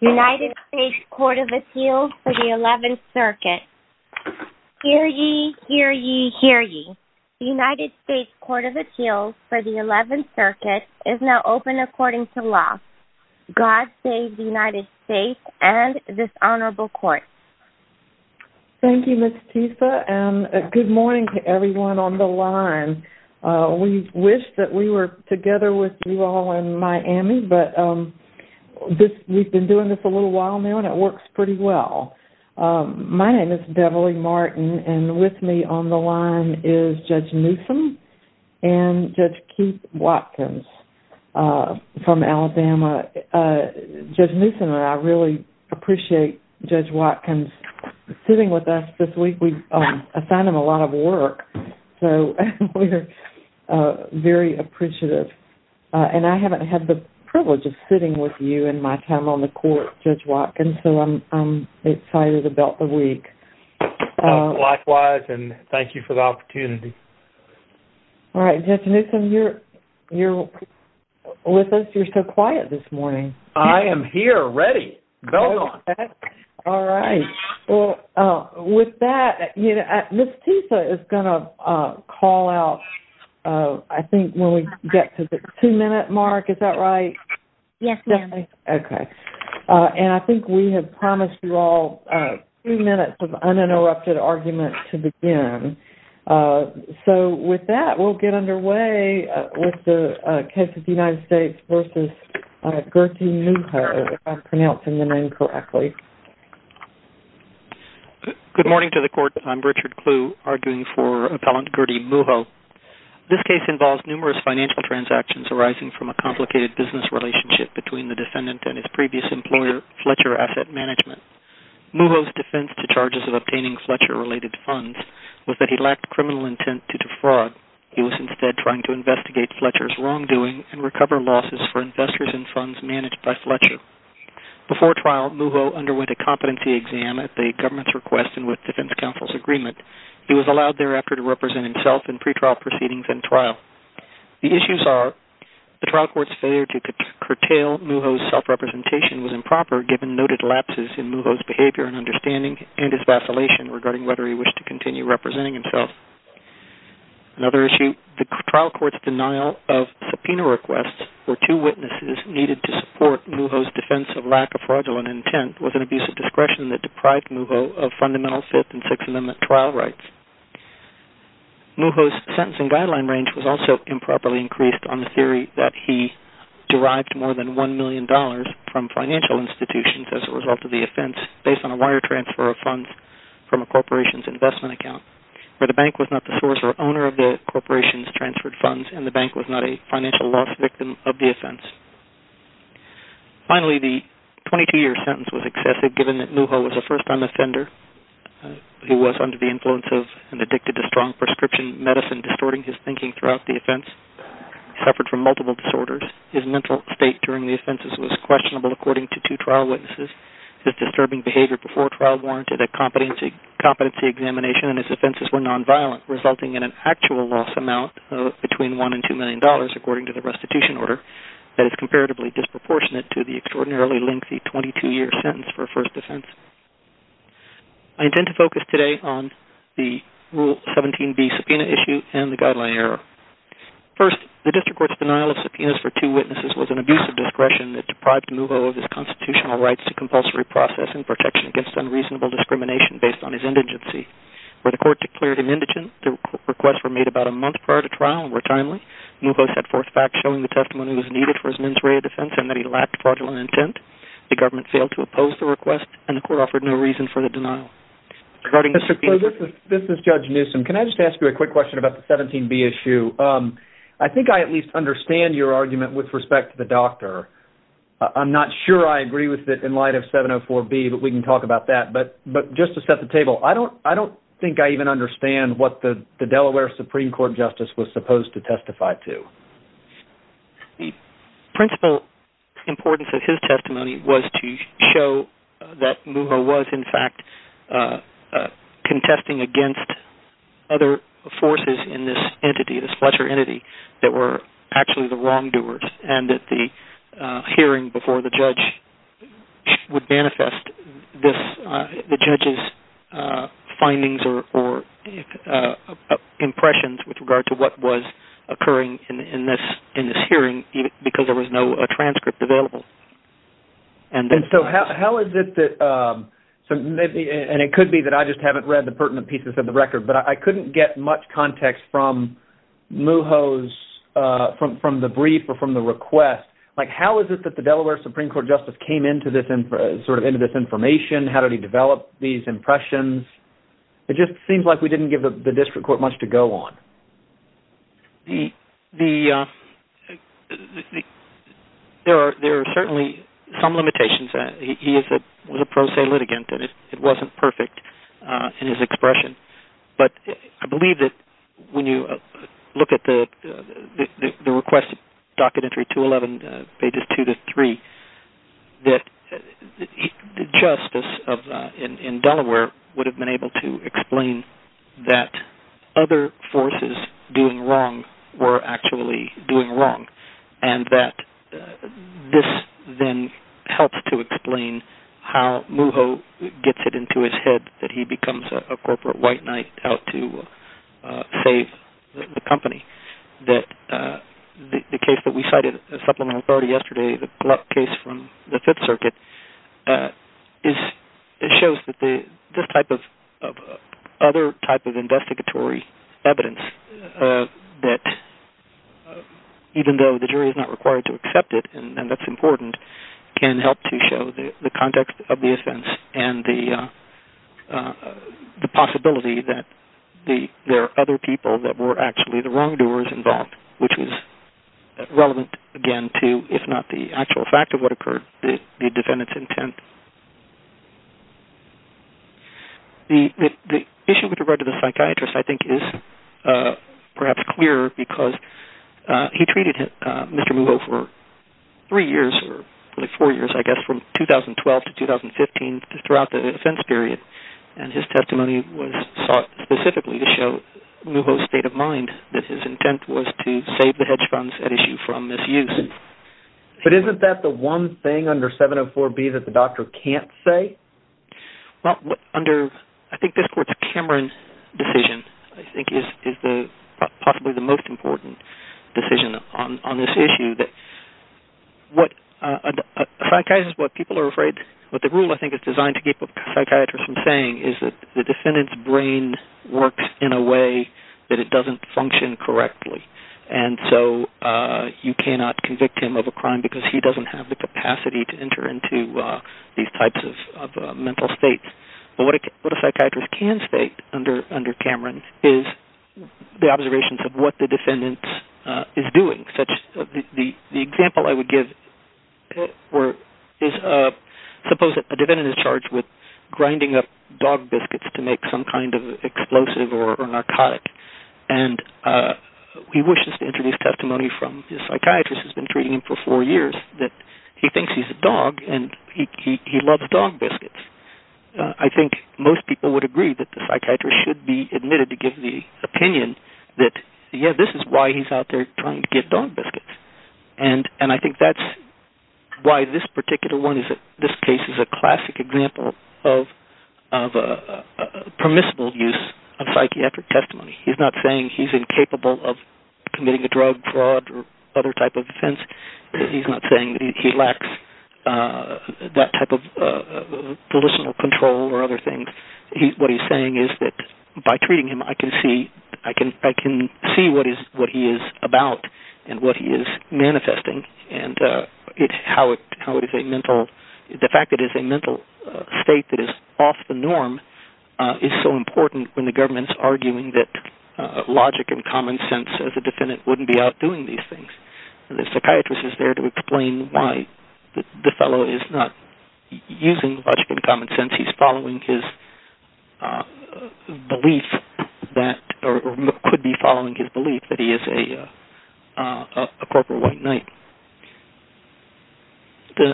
United States Court of Appeals for the 11th Circuit Hear ye, hear ye, hear ye The United States Court of Appeals for the 11th Circuit is now open according to law God save the United States and this Honorable Court Thank you Ms. Tisa and good morning to everyone on the line We wish that we were together with you all in Miami but We've been doing this a little while now and it works pretty well My name is Beverly Martin and with me on the line is Judge Newsome and Judge Keith Watkins from Alabama Judge Newsome and I really appreciate Judge Watkins sitting with us this week We've assigned him a lot of work so we're very appreciative and I haven't had the privilege of sitting with you in my time on the court, Judge Watkins so I'm excited about the week Likewise and thank you for the opportunity Alright Judge Newsome, you're with us, you're so quiet this morning I am here ready, go on Alright, well with that Ms. Tisa is going to call out I think when we get to the two minute mark, is that right? Yes ma'am Okay, and I think we have promised you all three minutes of uninterrupted argument to begin So with that we'll get underway with the case of the United States vs. Gertie Muho If I'm pronouncing the name correctly Good morning to the court, I'm Richard Clue arguing for Appellant Gertie Muho This case involves numerous financial transactions arising from a complicated business relationship between the defendant and his previous employer, Fletcher Asset Management Muho's defense to charges of obtaining Fletcher related funds was that he lacked criminal intent to defraud He was instead trying to investigate Fletcher's wrongdoing and recover losses for investors in funds managed by Fletcher Before trial, Muho underwent a competency exam at the government's request and with defense counsel's agreement He was allowed thereafter to represent himself in pretrial proceedings and trial The issues are, the trial court's failure to curtail Muho's self-representation was improper given noted lapses in Muho's behavior and understanding and his vacillation regarding whether he wished to continue representing himself Another issue, the trial court's denial of subpoena requests for two witnesses needed to support Muho's defense of lack of fraudulent intent was an abuse of discretion that deprived Muho of fundamental Fifth and Sixth Amendment trial rights Muho's sentence and guideline range was also improperly increased on the theory that he derived more than $1 million from financial institutions as a result of the offense, based on a wire transfer of funds from a corporation's investment account where the bank was not the source or owner of the corporation's transferred funds and the bank was not a financial loss victim of the offense Finally, the 22-year sentence was excessive, given that Muho was a first-time offender who was under the influence of and addicted to strong prescription medicine distorting his thinking throughout the offense He suffered from multiple disorders His mental state during the offenses was questionable, according to two trial witnesses His disturbing behavior before trial warranted a competency examination and his offenses were non-violent, resulting in an actual loss amount between $1 and $2 million, according to the restitution order that is comparatively disproportionate to the extraordinarily lengthy 22-year sentence for a first offense I intend to focus today on the Rule 17b subpoena issue and the guideline error First, the district court's denial of subpoenas for two witnesses was an abuse of discretion that deprived Muho of his constitutional rights to compulsory process and protection against unreasonable discrimination based on his indigency When the court declared him indigent, the requests were made about a month prior to trial and were timely Muho set forth facts showing the testimony was needed for his mens rea defense and that he lacked fraudulent intent The government failed to oppose the request and the court offered no reason for the denial This is Judge Newsom. Can I just ask you a quick question about the 17b issue? I think I at least understand your argument with respect to the doctor I'm not sure I agree with it in light of 704b, but we can talk about that But just to set the table, I don't think I even understand what the Delaware Supreme Court Justice was supposed to testify to The principal importance of his testimony was to show that Muho was in fact contesting against other forces in this entity, this Fletcher entity that were actually the wrongdoers and that the hearing before the judge would manifest the judge's findings or impressions with regard to what was occurring in this hearing because there was no transcript available And it could be that I just haven't read the pertinent pieces of the record but I couldn't get much context from Muho's brief or from the request How is it that the Delaware Supreme Court Justice came into this information? How did he develop these impressions? It just seems like we didn't give the district court much to go on There are certainly some limitations He was a pro se litigant and it wasn't perfect in his expression But I believe that when you look at the request docket entry 211 pages 2-3 that the justice in Delaware would have been able to explain that other forces doing wrong were actually doing wrong and that this then helps to explain how Muho gets it into his head that he becomes a corporate white knight out to save the company that the case that we cited as supplemental authority yesterday the case from the 5th circuit it shows that this type of other type of investigatory evidence that even though the jury is not required to accept it and that's important can help to show the context of the offense and the possibility that there are other people that were actually the wrongdoers involved which is relevant again to if not the actual fact of what occurred the defendant's intent The issue with regard to the psychiatrist I think is perhaps clear because he treated Mr. Muho for 3 years 4 years I guess from 2012 to 2015 throughout the offense period and his testimony was sought specifically to show Muho's state of mind that his intent was to save the hedge funds at issue from misuse But isn't that the one thing under 704B that the doctor can't say? Under I think this court's Cameron decision I think is possibly the most important decision on this issue What people are afraid what the rule I think is designed to keep a psychiatrist from saying is that the defendant's brain works in a way that it doesn't function correctly and so you cannot convict him of a crime because he doesn't have the capacity to enter into these types of mental states But what a psychiatrist can state under Cameron is the observations of what the defendant is doing The example I would give is suppose that the defendant is charged with grinding up dog biscuits to make some kind of explosive or narcotic and he wishes to introduce testimony from the psychiatrist who's been treating him for 4 years that he thinks he's a dog and he loves dog biscuits I think most people would agree that the psychiatrist should be admitted to give the opinion that this is why he's out there trying to give dog biscuits and I think that's why this particular one this case is a classic example of a permissible use of psychiatric testimony He's not saying he's incapable of committing a drug, fraud or other type of offense He's not saying that he lacks that type of political control or other things What he's saying is that by treating him I can see I can see what he is about and what he is manifesting and how it is a mental... the fact that it is a mental state that is off the norm is so important when the government is arguing that logic and common sense as a defendant wouldn't be out doing these things The psychiatrist is there to explain why the fellow is not using logic and common sense since he's following his belief that or could be following his belief that he is a corporate white knight Go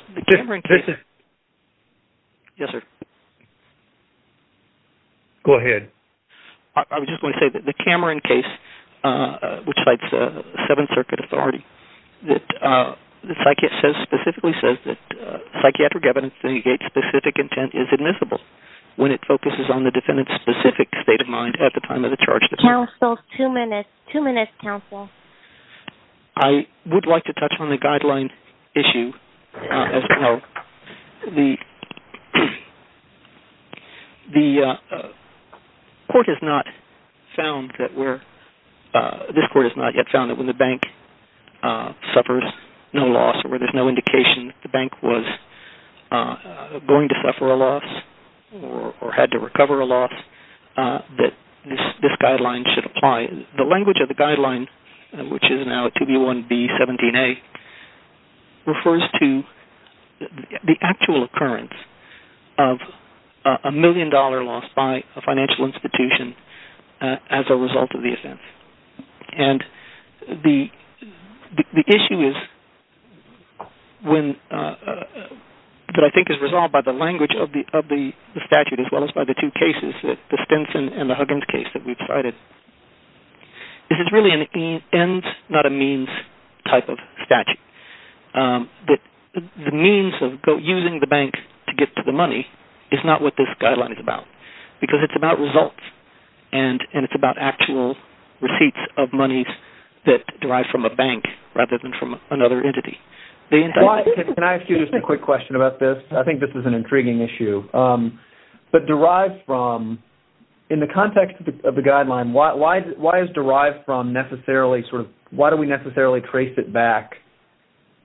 ahead I was just going to say that the Cameron case which fights 7th Circuit authority that the psychiatrist specifically says that the psychiatric evidence indicates specific intent is admissible when it focuses on the defendant's specific state of mind at the time of the charge Counsel, two minutes, two minutes, counsel I would like to touch on the guideline issue as to how the... the court has not found that where... this court has not yet found that when the bank suffers no loss or there is no indication that the bank was going to suffer a loss or had to recover a loss that this guideline should apply The language of the guideline which is now 2B1B17A refers to the actual occurrence of a million dollar loss by a financial institution as a result of the offense and the issue is when... that I think is resolved by the language of the statute as well as by the two cases the Stinson and the Huggins case that we've cited This is really an ends not a means type of statute The means of using the bank to get to the money is not what this guideline is about because it's about results and it's about actual receipts of money that derive from a bank rather than from another entity Can I ask you just a quick question about this? I think this is an intriguing issue But derived from... in the context of the guideline why is derived from necessarily sort of... why do we necessarily trace it back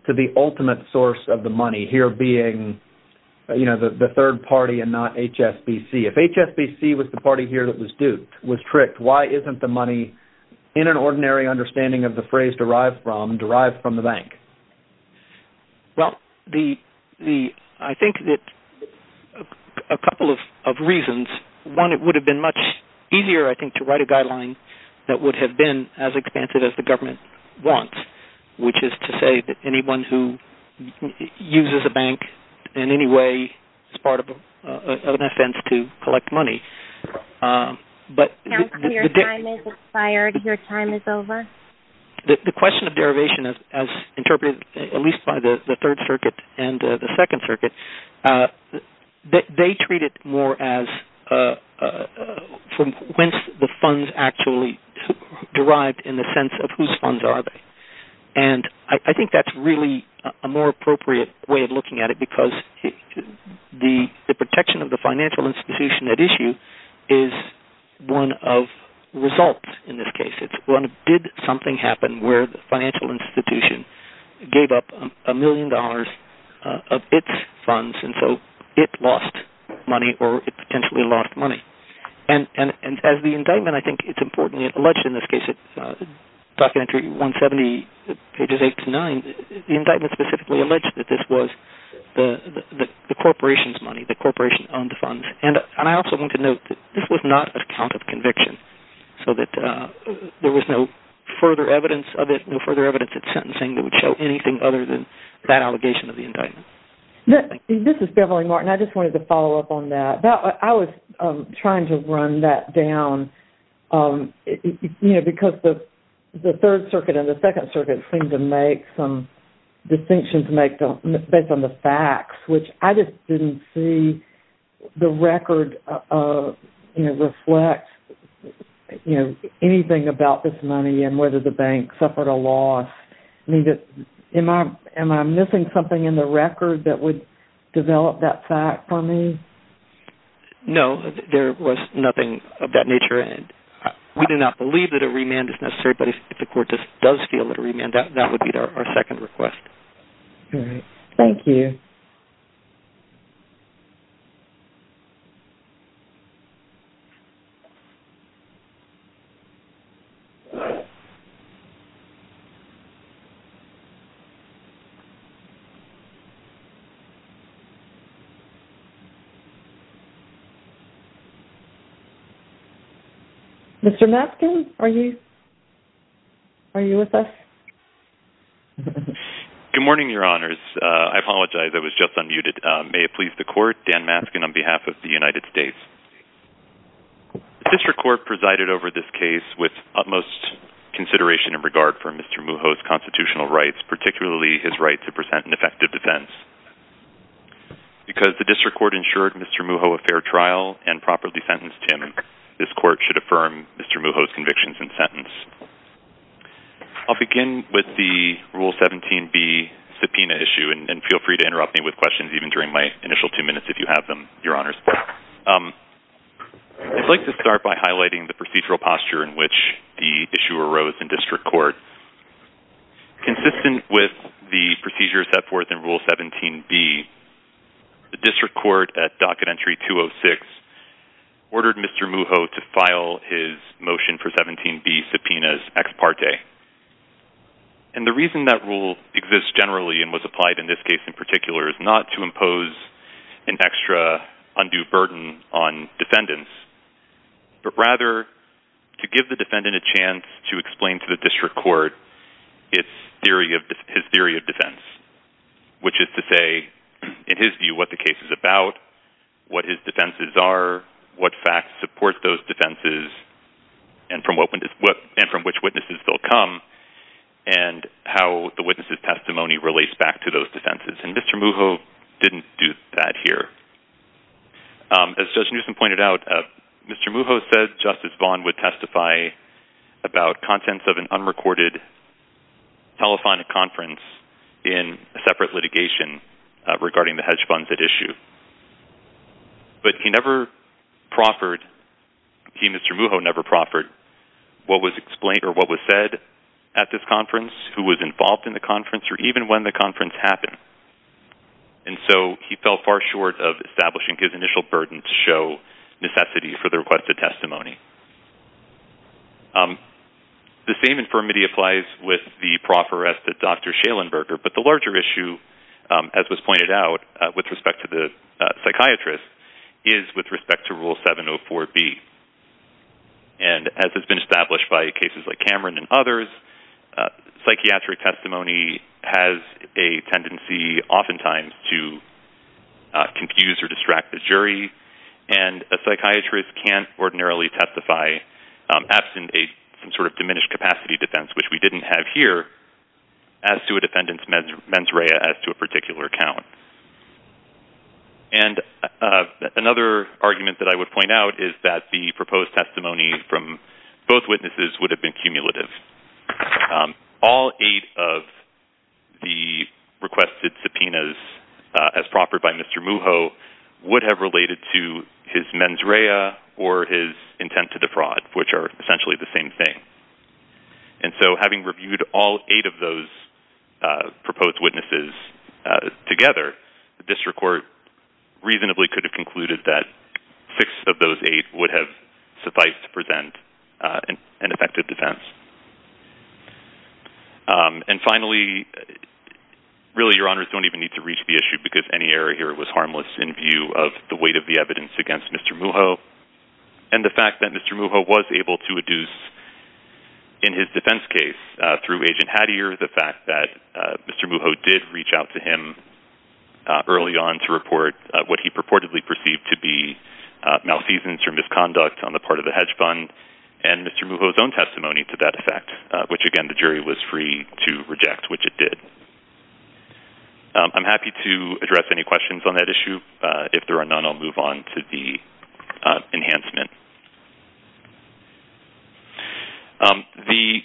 to the ultimate source of the money here being the third party and not HSBC If HSBC was the party here that was tricked why isn't the money in an ordinary understanding of the phrase derived from, derived from the bank? Well, the... I think that a couple of reasons One, it would have been much easier I think to write a guideline that would have been as expansive as the government wants which is to say that anyone who uses a bank in any way is part of an offense to collect money Counselor, your time is expired Your time is over The question of derivation as interpreted at least by the Third Circuit and the Second Circuit they treat it more as from whence the funds actually derived in the sense of whose funds are they And I think that's really a more appropriate way of looking at it because the protection of the financial institution at issue is one of results in this case It's when did something happen where the financial institution gave up a million dollars of its funds and so it lost money or it potentially lost money And as the indictment I think it's important alleged in this case Documentary 170 pages 8 to 9 The indictment specifically alleged that this was the corporation's money the corporation owned the funds And I also want to note that this was not a count of conviction so that there was no further evidence of it, no further evidence at sentencing that would show anything other than that allegation of the indictment This is Beverly Martin I just wanted to follow up on that I was trying to run that down because the Third Circuit and the Second Circuit seem to make some distinctions based on the facts which I just didn't see the record reflect anything about this money and whether the bank suffered a loss Am I missing something in the record that would develop that fact for me No, there was nothing of that nature We do not believe that a remand is necessary But if the court does feel that a remand that would be our second request Thank you Mr. Maskin, are you with us? Good morning, your honors I apologize, I was just unmuted May it please the court, Dan Maskin on behalf of the United States The District Court presided over this case with utmost consideration and regard for Mr. Mujo's constitutional rights, particularly his right to present an effective defense Because the District Court ensured Mr. Mujo a fair trial and properly sentenced him this court should affirm Mr. Mujo's convictions and sentence I'll begin with the Rule 17B subpoena issue and feel free to interrupt me with questions even during my initial two minutes if you have them your honors I'd like to start by highlighting the procedural posture in which the issue arose in District Court Consistent with the procedures set forth in Rule 17B the District Court at Docket Entry 206 ordered Mr. Mujo to file his motion for 17B subpoenas ex parte and the reason that rule exists generally and was to impose an extra undue burden on defendants, but rather to give the defendant a chance to explain to the District Court his theory of defense, which is to say, in his view, what the case is about, what his defenses are, what facts support those defenses and from which witnesses they'll come, and how the witness's testimony relates back to those defenses, and Mr. Mujo didn't do that here As Judge Newsom pointed out, Mr. Mujo said Justice Vaughn would testify about contents of an unrecorded telephonic conference in a separate litigation regarding the hedge funds at issue but he never proffered he, Mr. Mujo, never proffered what was explained or what was said at this conference, who was to make this conference happen and so he fell far short of establishing his initial burden to show necessity for the requested testimony The same infirmity applies with the proffer as to Dr. Schellenberger, but the larger issue as was pointed out with respect to the psychiatrist is with respect to Rule 704b and as has been established by cases like Cameron and others psychiatric testimony has a tendency often times to confuse or distract the jury and a psychiatrist can't ordinarily testify absent some sort of diminished capacity defense, which we didn't have here as to a defendant's mens rea as to a particular account and another argument that I would point out is that the proposed testimony from both witnesses would have been cumulative All eight of the requested subpoenas as proffered by Mr. Mujo would have related to his mens rea or his intent to defraud, which are essentially the same thing and so having reviewed all eight of those proposed witnesses together the district court reasonably could have concluded that six of those eight would have sufficed to present an effective defense and finally really your honors don't even need to reach the issue because any error here was harmless in view of the weight of the evidence against Mr. Mujo and the fact that Mr. Mujo was able to adduce in his defense case through Agent Hattier the fact that Mr. Mujo did reach out to him early on to report what he purportedly perceived to be malfeasance or misconduct on the part of the hedge fund and Mr. Mujo's own testimony to that effect, which again the jury was free to reject which it did I'm happy to address any questions on that issue. If there are none I'll move on to the enhancement The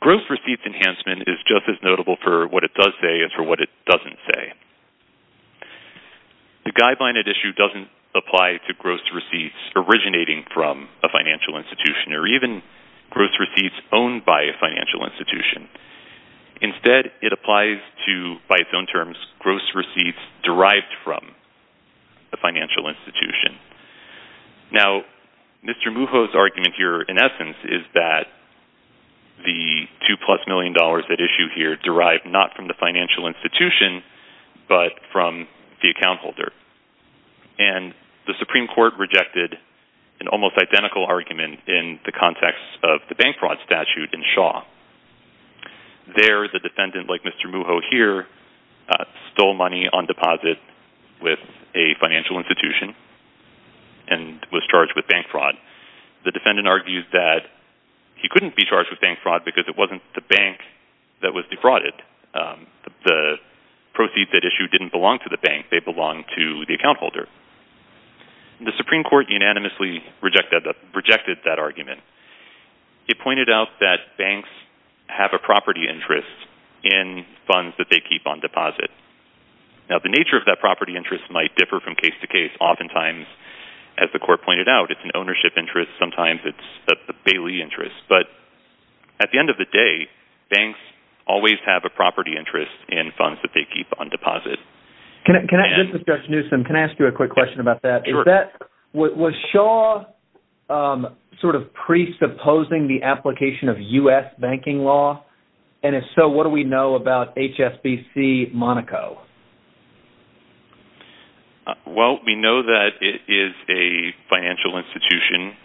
gross receipts enhancement is just as notable for what it does say as for what it doesn't say The guideline at issue doesn't apply to gross receipts originating from a financial institution or even gross receipts owned by a financial institution. Instead it applies to by its own terms gross receipts derived from a financial institution. Now Mr. Mujo's argument here in essence is that the two plus million dollars at issue here derived not from the financial institution but from the account holder and the Supreme Court rejected an almost identical argument in the context of the bank fraud statute in Shaw There the defendant like Mr. Mujo here stole money on deposit with a financial institution and was charged with bank fraud. The defendant argues that he couldn't be charged with bank fraud because it wasn't the bank that was defrauded. The proceeds at issue didn't belong to the bank. They belonged to the account holder. The Supreme Court unanimously rejected that argument. It pointed out that banks have a property interest in funds that they keep on deposit Now the nature of that property interest might differ from case to case. Oftentimes as the court pointed out it's an ownership interest. Sometimes it's a bailee interest. But at the end of the day, banks always have a property interest in funds that they keep on deposit. This is Josh Newsom. Can I ask you a quick question about that? Was Shaw sort of presupposing the application of U.S. banking law? And if so, what do we know about HSBC Monaco? Well, we know that it is a financial institution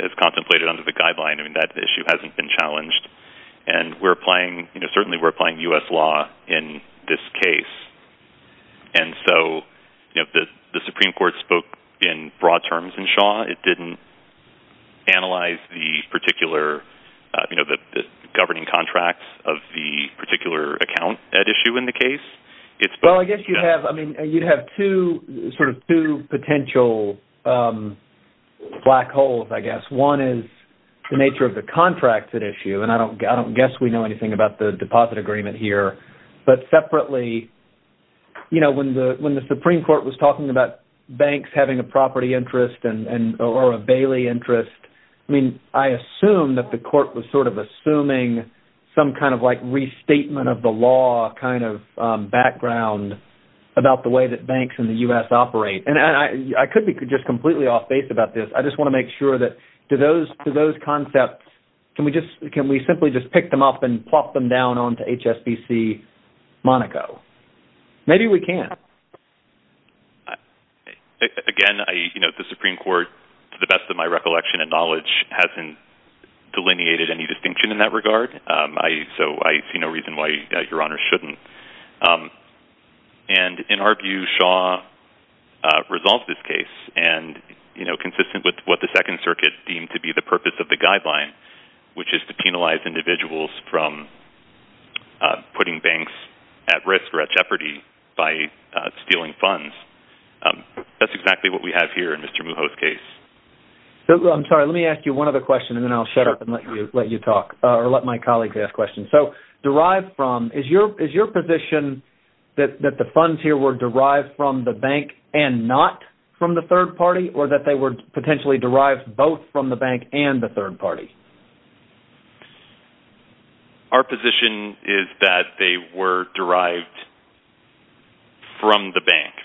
as contemplated under the guideline. That issue hasn't been challenged. Certainly we're applying U.S. law in this case. And so the Supreme Court spoke in broad terms in Shaw. It didn't analyze the particular governing contracts of the particular account at issue in the case. You'd have two potential black holes, I guess. One is the nature of the contract at issue. I don't guess we know anything about the deposit agreement here. But separately, when the Supreme Court was talking about banks having a property interest or a bailee interest, I assume that the court was sort of assuming some kind of restatement of the law kind of background about the way that banks in the U.S. operate. And I could be completely off-base about this. I just want to make sure that to those concepts, can we simply just pick them up and plop them down onto HSBC Monaco? Maybe we can. Again, the Supreme Court, to the best of my recollection and knowledge, hasn't delineated any distinction in that regard. So I see no reason why Your Honor shouldn't. And in our view, Shaw resolved this case and consistent with what the Second Circuit deemed to be the purpose of the guideline, which is to penalize individuals from putting banks at risk or at jeopardy by stealing funds. That's exactly what we have here in Mr. Mujo's case. I'm sorry. Let me ask you one other question, and then I'll shut up and let you talk, or let my colleagues ask questions. So derived from, is your position that the funds here were derived from the bank and not from the third party, or that they were potentially derived both from the bank and the third party? Our position is that they were derived from the bank.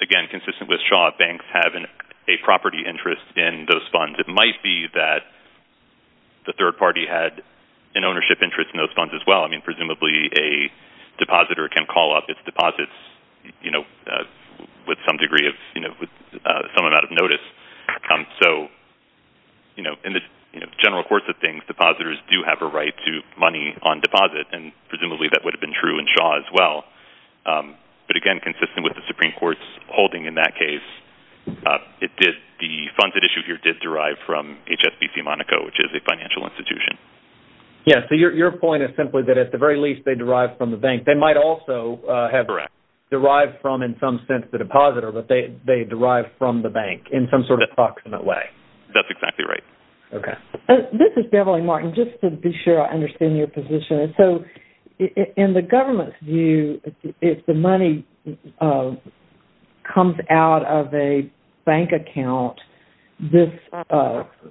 Again, consistent with Shaw, banks have a property interest in those funds. It might be that the third party had an interest in those funds. It might be a depositor can call up its deposits with some degree of some amount of notice. In the general course of things, depositors do have a right to money on deposit, and presumably that would have been true in Shaw as well. But again, consistent with the Supreme Court's holding in that case, the funds at issue here did derive from HSBC Monaco, which is a bank. They might also have derived from, in some sense, the depositor, but they derive from the bank in some sort of approximate way. That's exactly right. This is Beverly Martin. Just to be sure I understand your position. In the government's view, if the money comes out of a bank account, this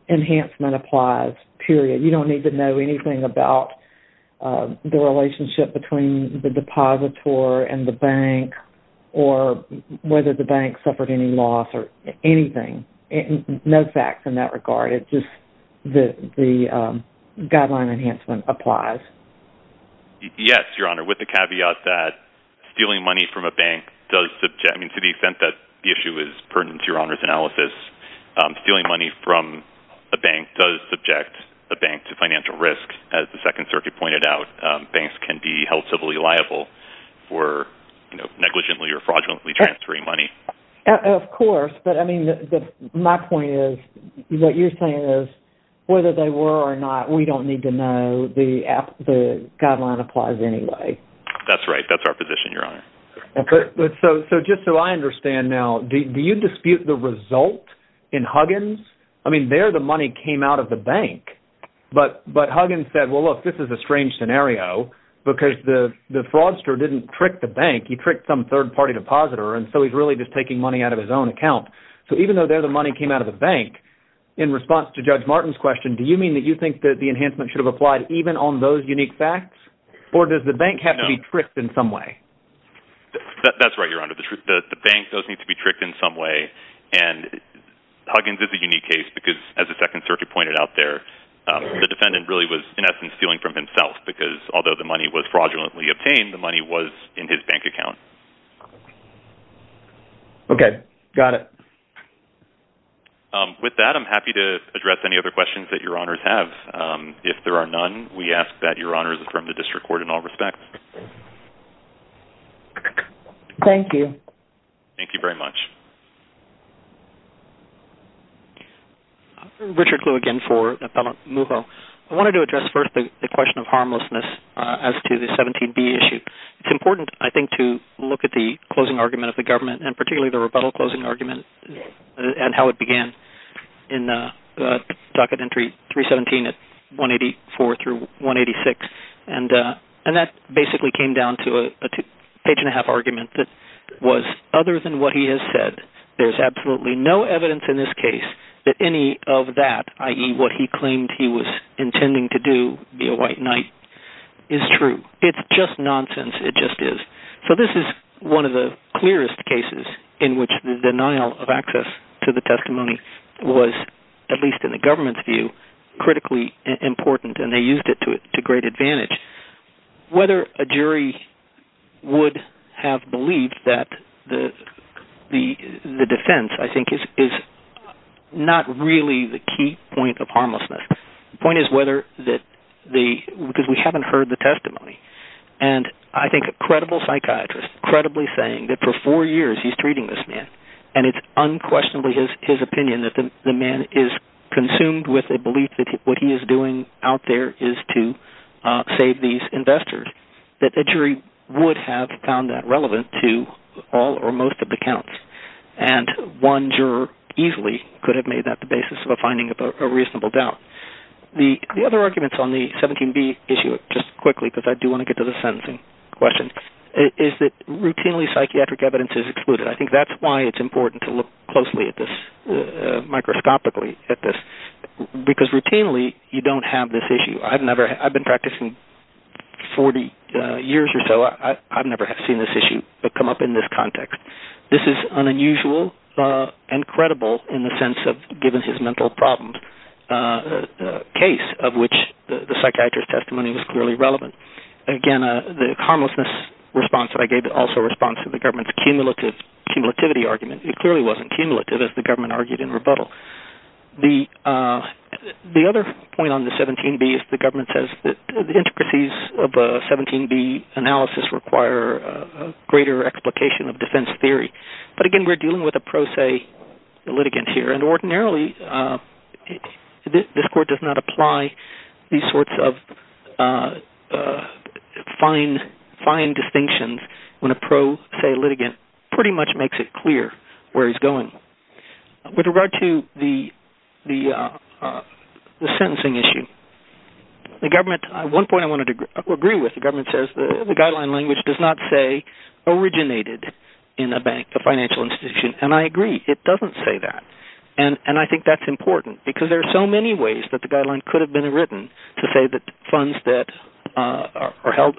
enhancement applies, period. You don't need to know anything about the relationship between the depositor and the bank or whether the bank suffered any loss or anything. No facts in that regard. It's just the guideline enhancement applies. Yes, Your Honor. With the caveat that stealing money from a bank does subject, to the extent that the issue is pertinent to Your Honor's analysis, stealing money from a bank does subject a bank to as Second Circuit pointed out, banks can be held civilly liable for negligently or fraudulently transferring money. Of course, but my point is, what you're saying is, whether they were or not, we don't need to know. The guideline applies anyway. That's right. That's our position, Your Honor. Just so I understand now, do you dispute the result in Huggins? There, the money came out of the bank, but Huggins said, well, look, this is a strange scenario because the fraudster didn't trick the bank. He tricked some third-party depositor, and so he's really just taking money out of his own account. So even though there the money came out of the bank, in response to Judge Martin's question, do you mean that you think that the enhancement should have applied even on those unique facts, or does the bank have to be tricked in some way? That's right, Your Honor. The bank does need to be tricked in some way, and Huggins is a unique case because, as the Second Circuit pointed out there, the defendant really was in essence stealing from himself because although the money was fraudulently obtained, the money was in his bank account. Okay. Got it. With that, I'm happy to address any other questions that Your Honors have. If there are none, we ask that Your Honors affirm the District Court in all respects. Thank you. Thank you very much. Richard Glue again for Appellant Mujo. I wanted to address first the question of harmlessness as to the 17B issue. It's important, I think, to look at the closing argument of the government, and particularly the rebuttal closing argument and how it began in docket entry 317 at 184 through 186, and that basically came down to a page-and-a-half argument that was other than what he has said, there's absolutely no evidence in this case that any of that, i.e., what he claimed he was intending to do, be a white knight, is true. It's just nonsense. It just is. So this is one of the clearest cases in which the denial of access to the testimony was, at least in the government's view, critically important, and they used it to great advantage. Whether a jury would have believed that the defense, I think, is not really the key point of harmlessness. The point is whether the...because we haven't heard the testimony, and I think a credible psychiatrist, credibly saying that for four years he's treating this man, and it's unquestionably his opinion that the man is consumed with a belief that what he is doing out there is to save these investors, that the jury would have found that relevant to all or most of the counts, and one juror easily could have made that the basis of a finding of a reasonable doubt. The other arguments on the 17b issue, just quickly, because I do want to get to the sentencing question, is that routinely psychiatric evidence is excluded. I think that's why it's important to look closely at this, microscopically at this, because routinely you don't have this issue. I've never... I've been practicing 40 years or so, I've never seen this issue come up in this context. This is unusual and credible in the sense of, given his mental problems, a case of which the psychiatrist's testimony was clearly relevant. Again, the harmlessness response that I gave also responds to the government's cumulative...cumulativity argument. It clearly wasn't cumulative, as the government argued in rebuttal. The other point on the 17b is the government says that the intricacies of a 17b analysis require a greater explication of defense theory. But again, we're dealing with a pro se litigant here, and ordinarily this court does not apply these sorts of fine distinctions when a pro se litigant pretty much makes it clear where he's going. With regard to the government, one point I wanted to agree with, the government says the guideline language does not say originated in a bank, a financial institution. And I agree, it doesn't say that. And I think that's important, because there are so many ways that the guideline could have been written to say that funds that are held,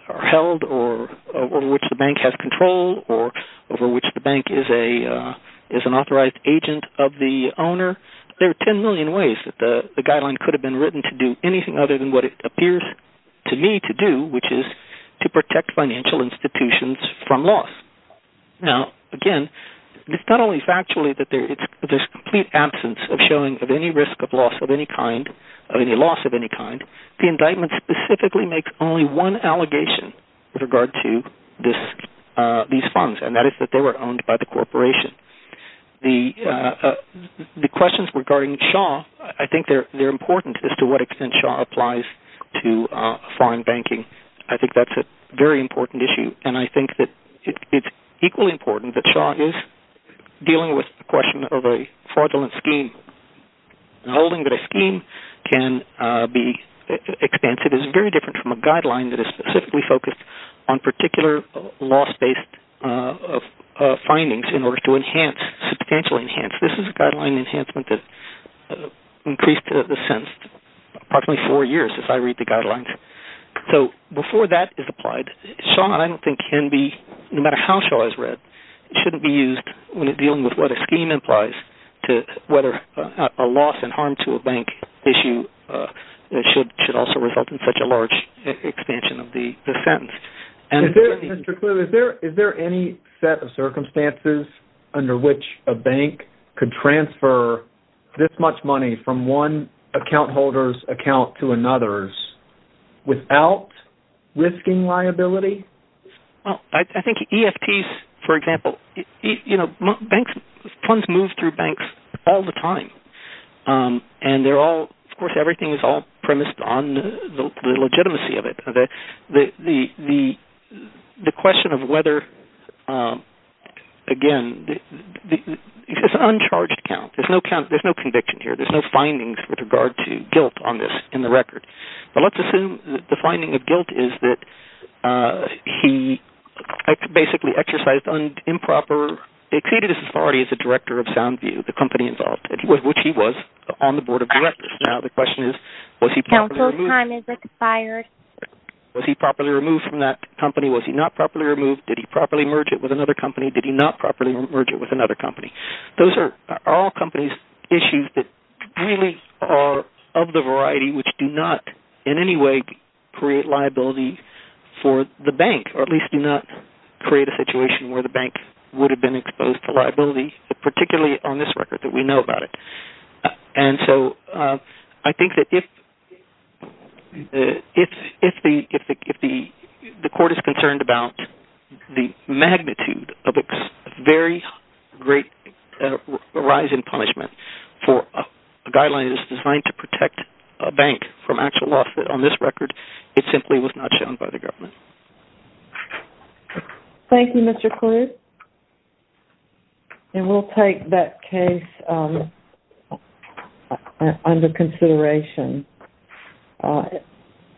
or over which the bank has control, or over which the bank is an authorized agent of the owner. There are 10 million ways that the guideline could have been written to do anything other than what it appears to me to do, which is to protect financial institutions from loss. Now, again, it's not only factually that there's complete absence of showing of any risk of loss of any kind, of any loss of any kind, the indictment specifically makes only one allegation with regard to these funds, and that is that they were owned by the corporation. The questions regarding Shaw, I think they're important as to what extent Shaw applies to foreign banking. I think that's a very important issue, and I think that it's equally important that Shaw is dealing with the question of a fraudulent scheme. Holding that a scheme can be expensive is very different from a guideline that is specifically focused on particular loss-based findings in order to enhance, substantially enhance. This is a guideline enhancement that increased the sentence approximately four years as I read the guidelines. So before that is applied, Shaw, and I don't think can be, no matter how Shaw is read, shouldn't be used when dealing with what a scheme implies to whether a loss and harm to a bank issue should also result in such a large expansion of the sentence. Is there any set of circumstances under which a bank could transfer this much money from one account holder's account to another's without risking liability? I think EFTs, for example, you know, banks, funds move through banks all the time, and they're all, of course, everything is all premised on the legitimacy of it. The question of whether, again, it's an uncharged account. There's no conviction here. There's no findings with regard to guilt on this in the record. But let's assume the finding of guilt is that he basically exercised improper, exceeded his authority as a director of Soundview, the company involved, which he was, on the board of directors. Now the question is, was he properly removed from that company? Was he not properly removed? Did he properly merge it with another company? Did he not properly merge it with another company? Those are all companies' issues that really are of the variety which do not in any way create liability for the bank, or at least do not create a situation where the bank would have been exposed to liability, particularly on this record that we know about it. And so I think that if the court is concerned about the magnitude of a very great rise in punishment for a guideline that is designed to protect a bank from actual loss on this record, it simply was not shown by the government. Thank you, Mr. Kluge. And we'll take that case under consideration.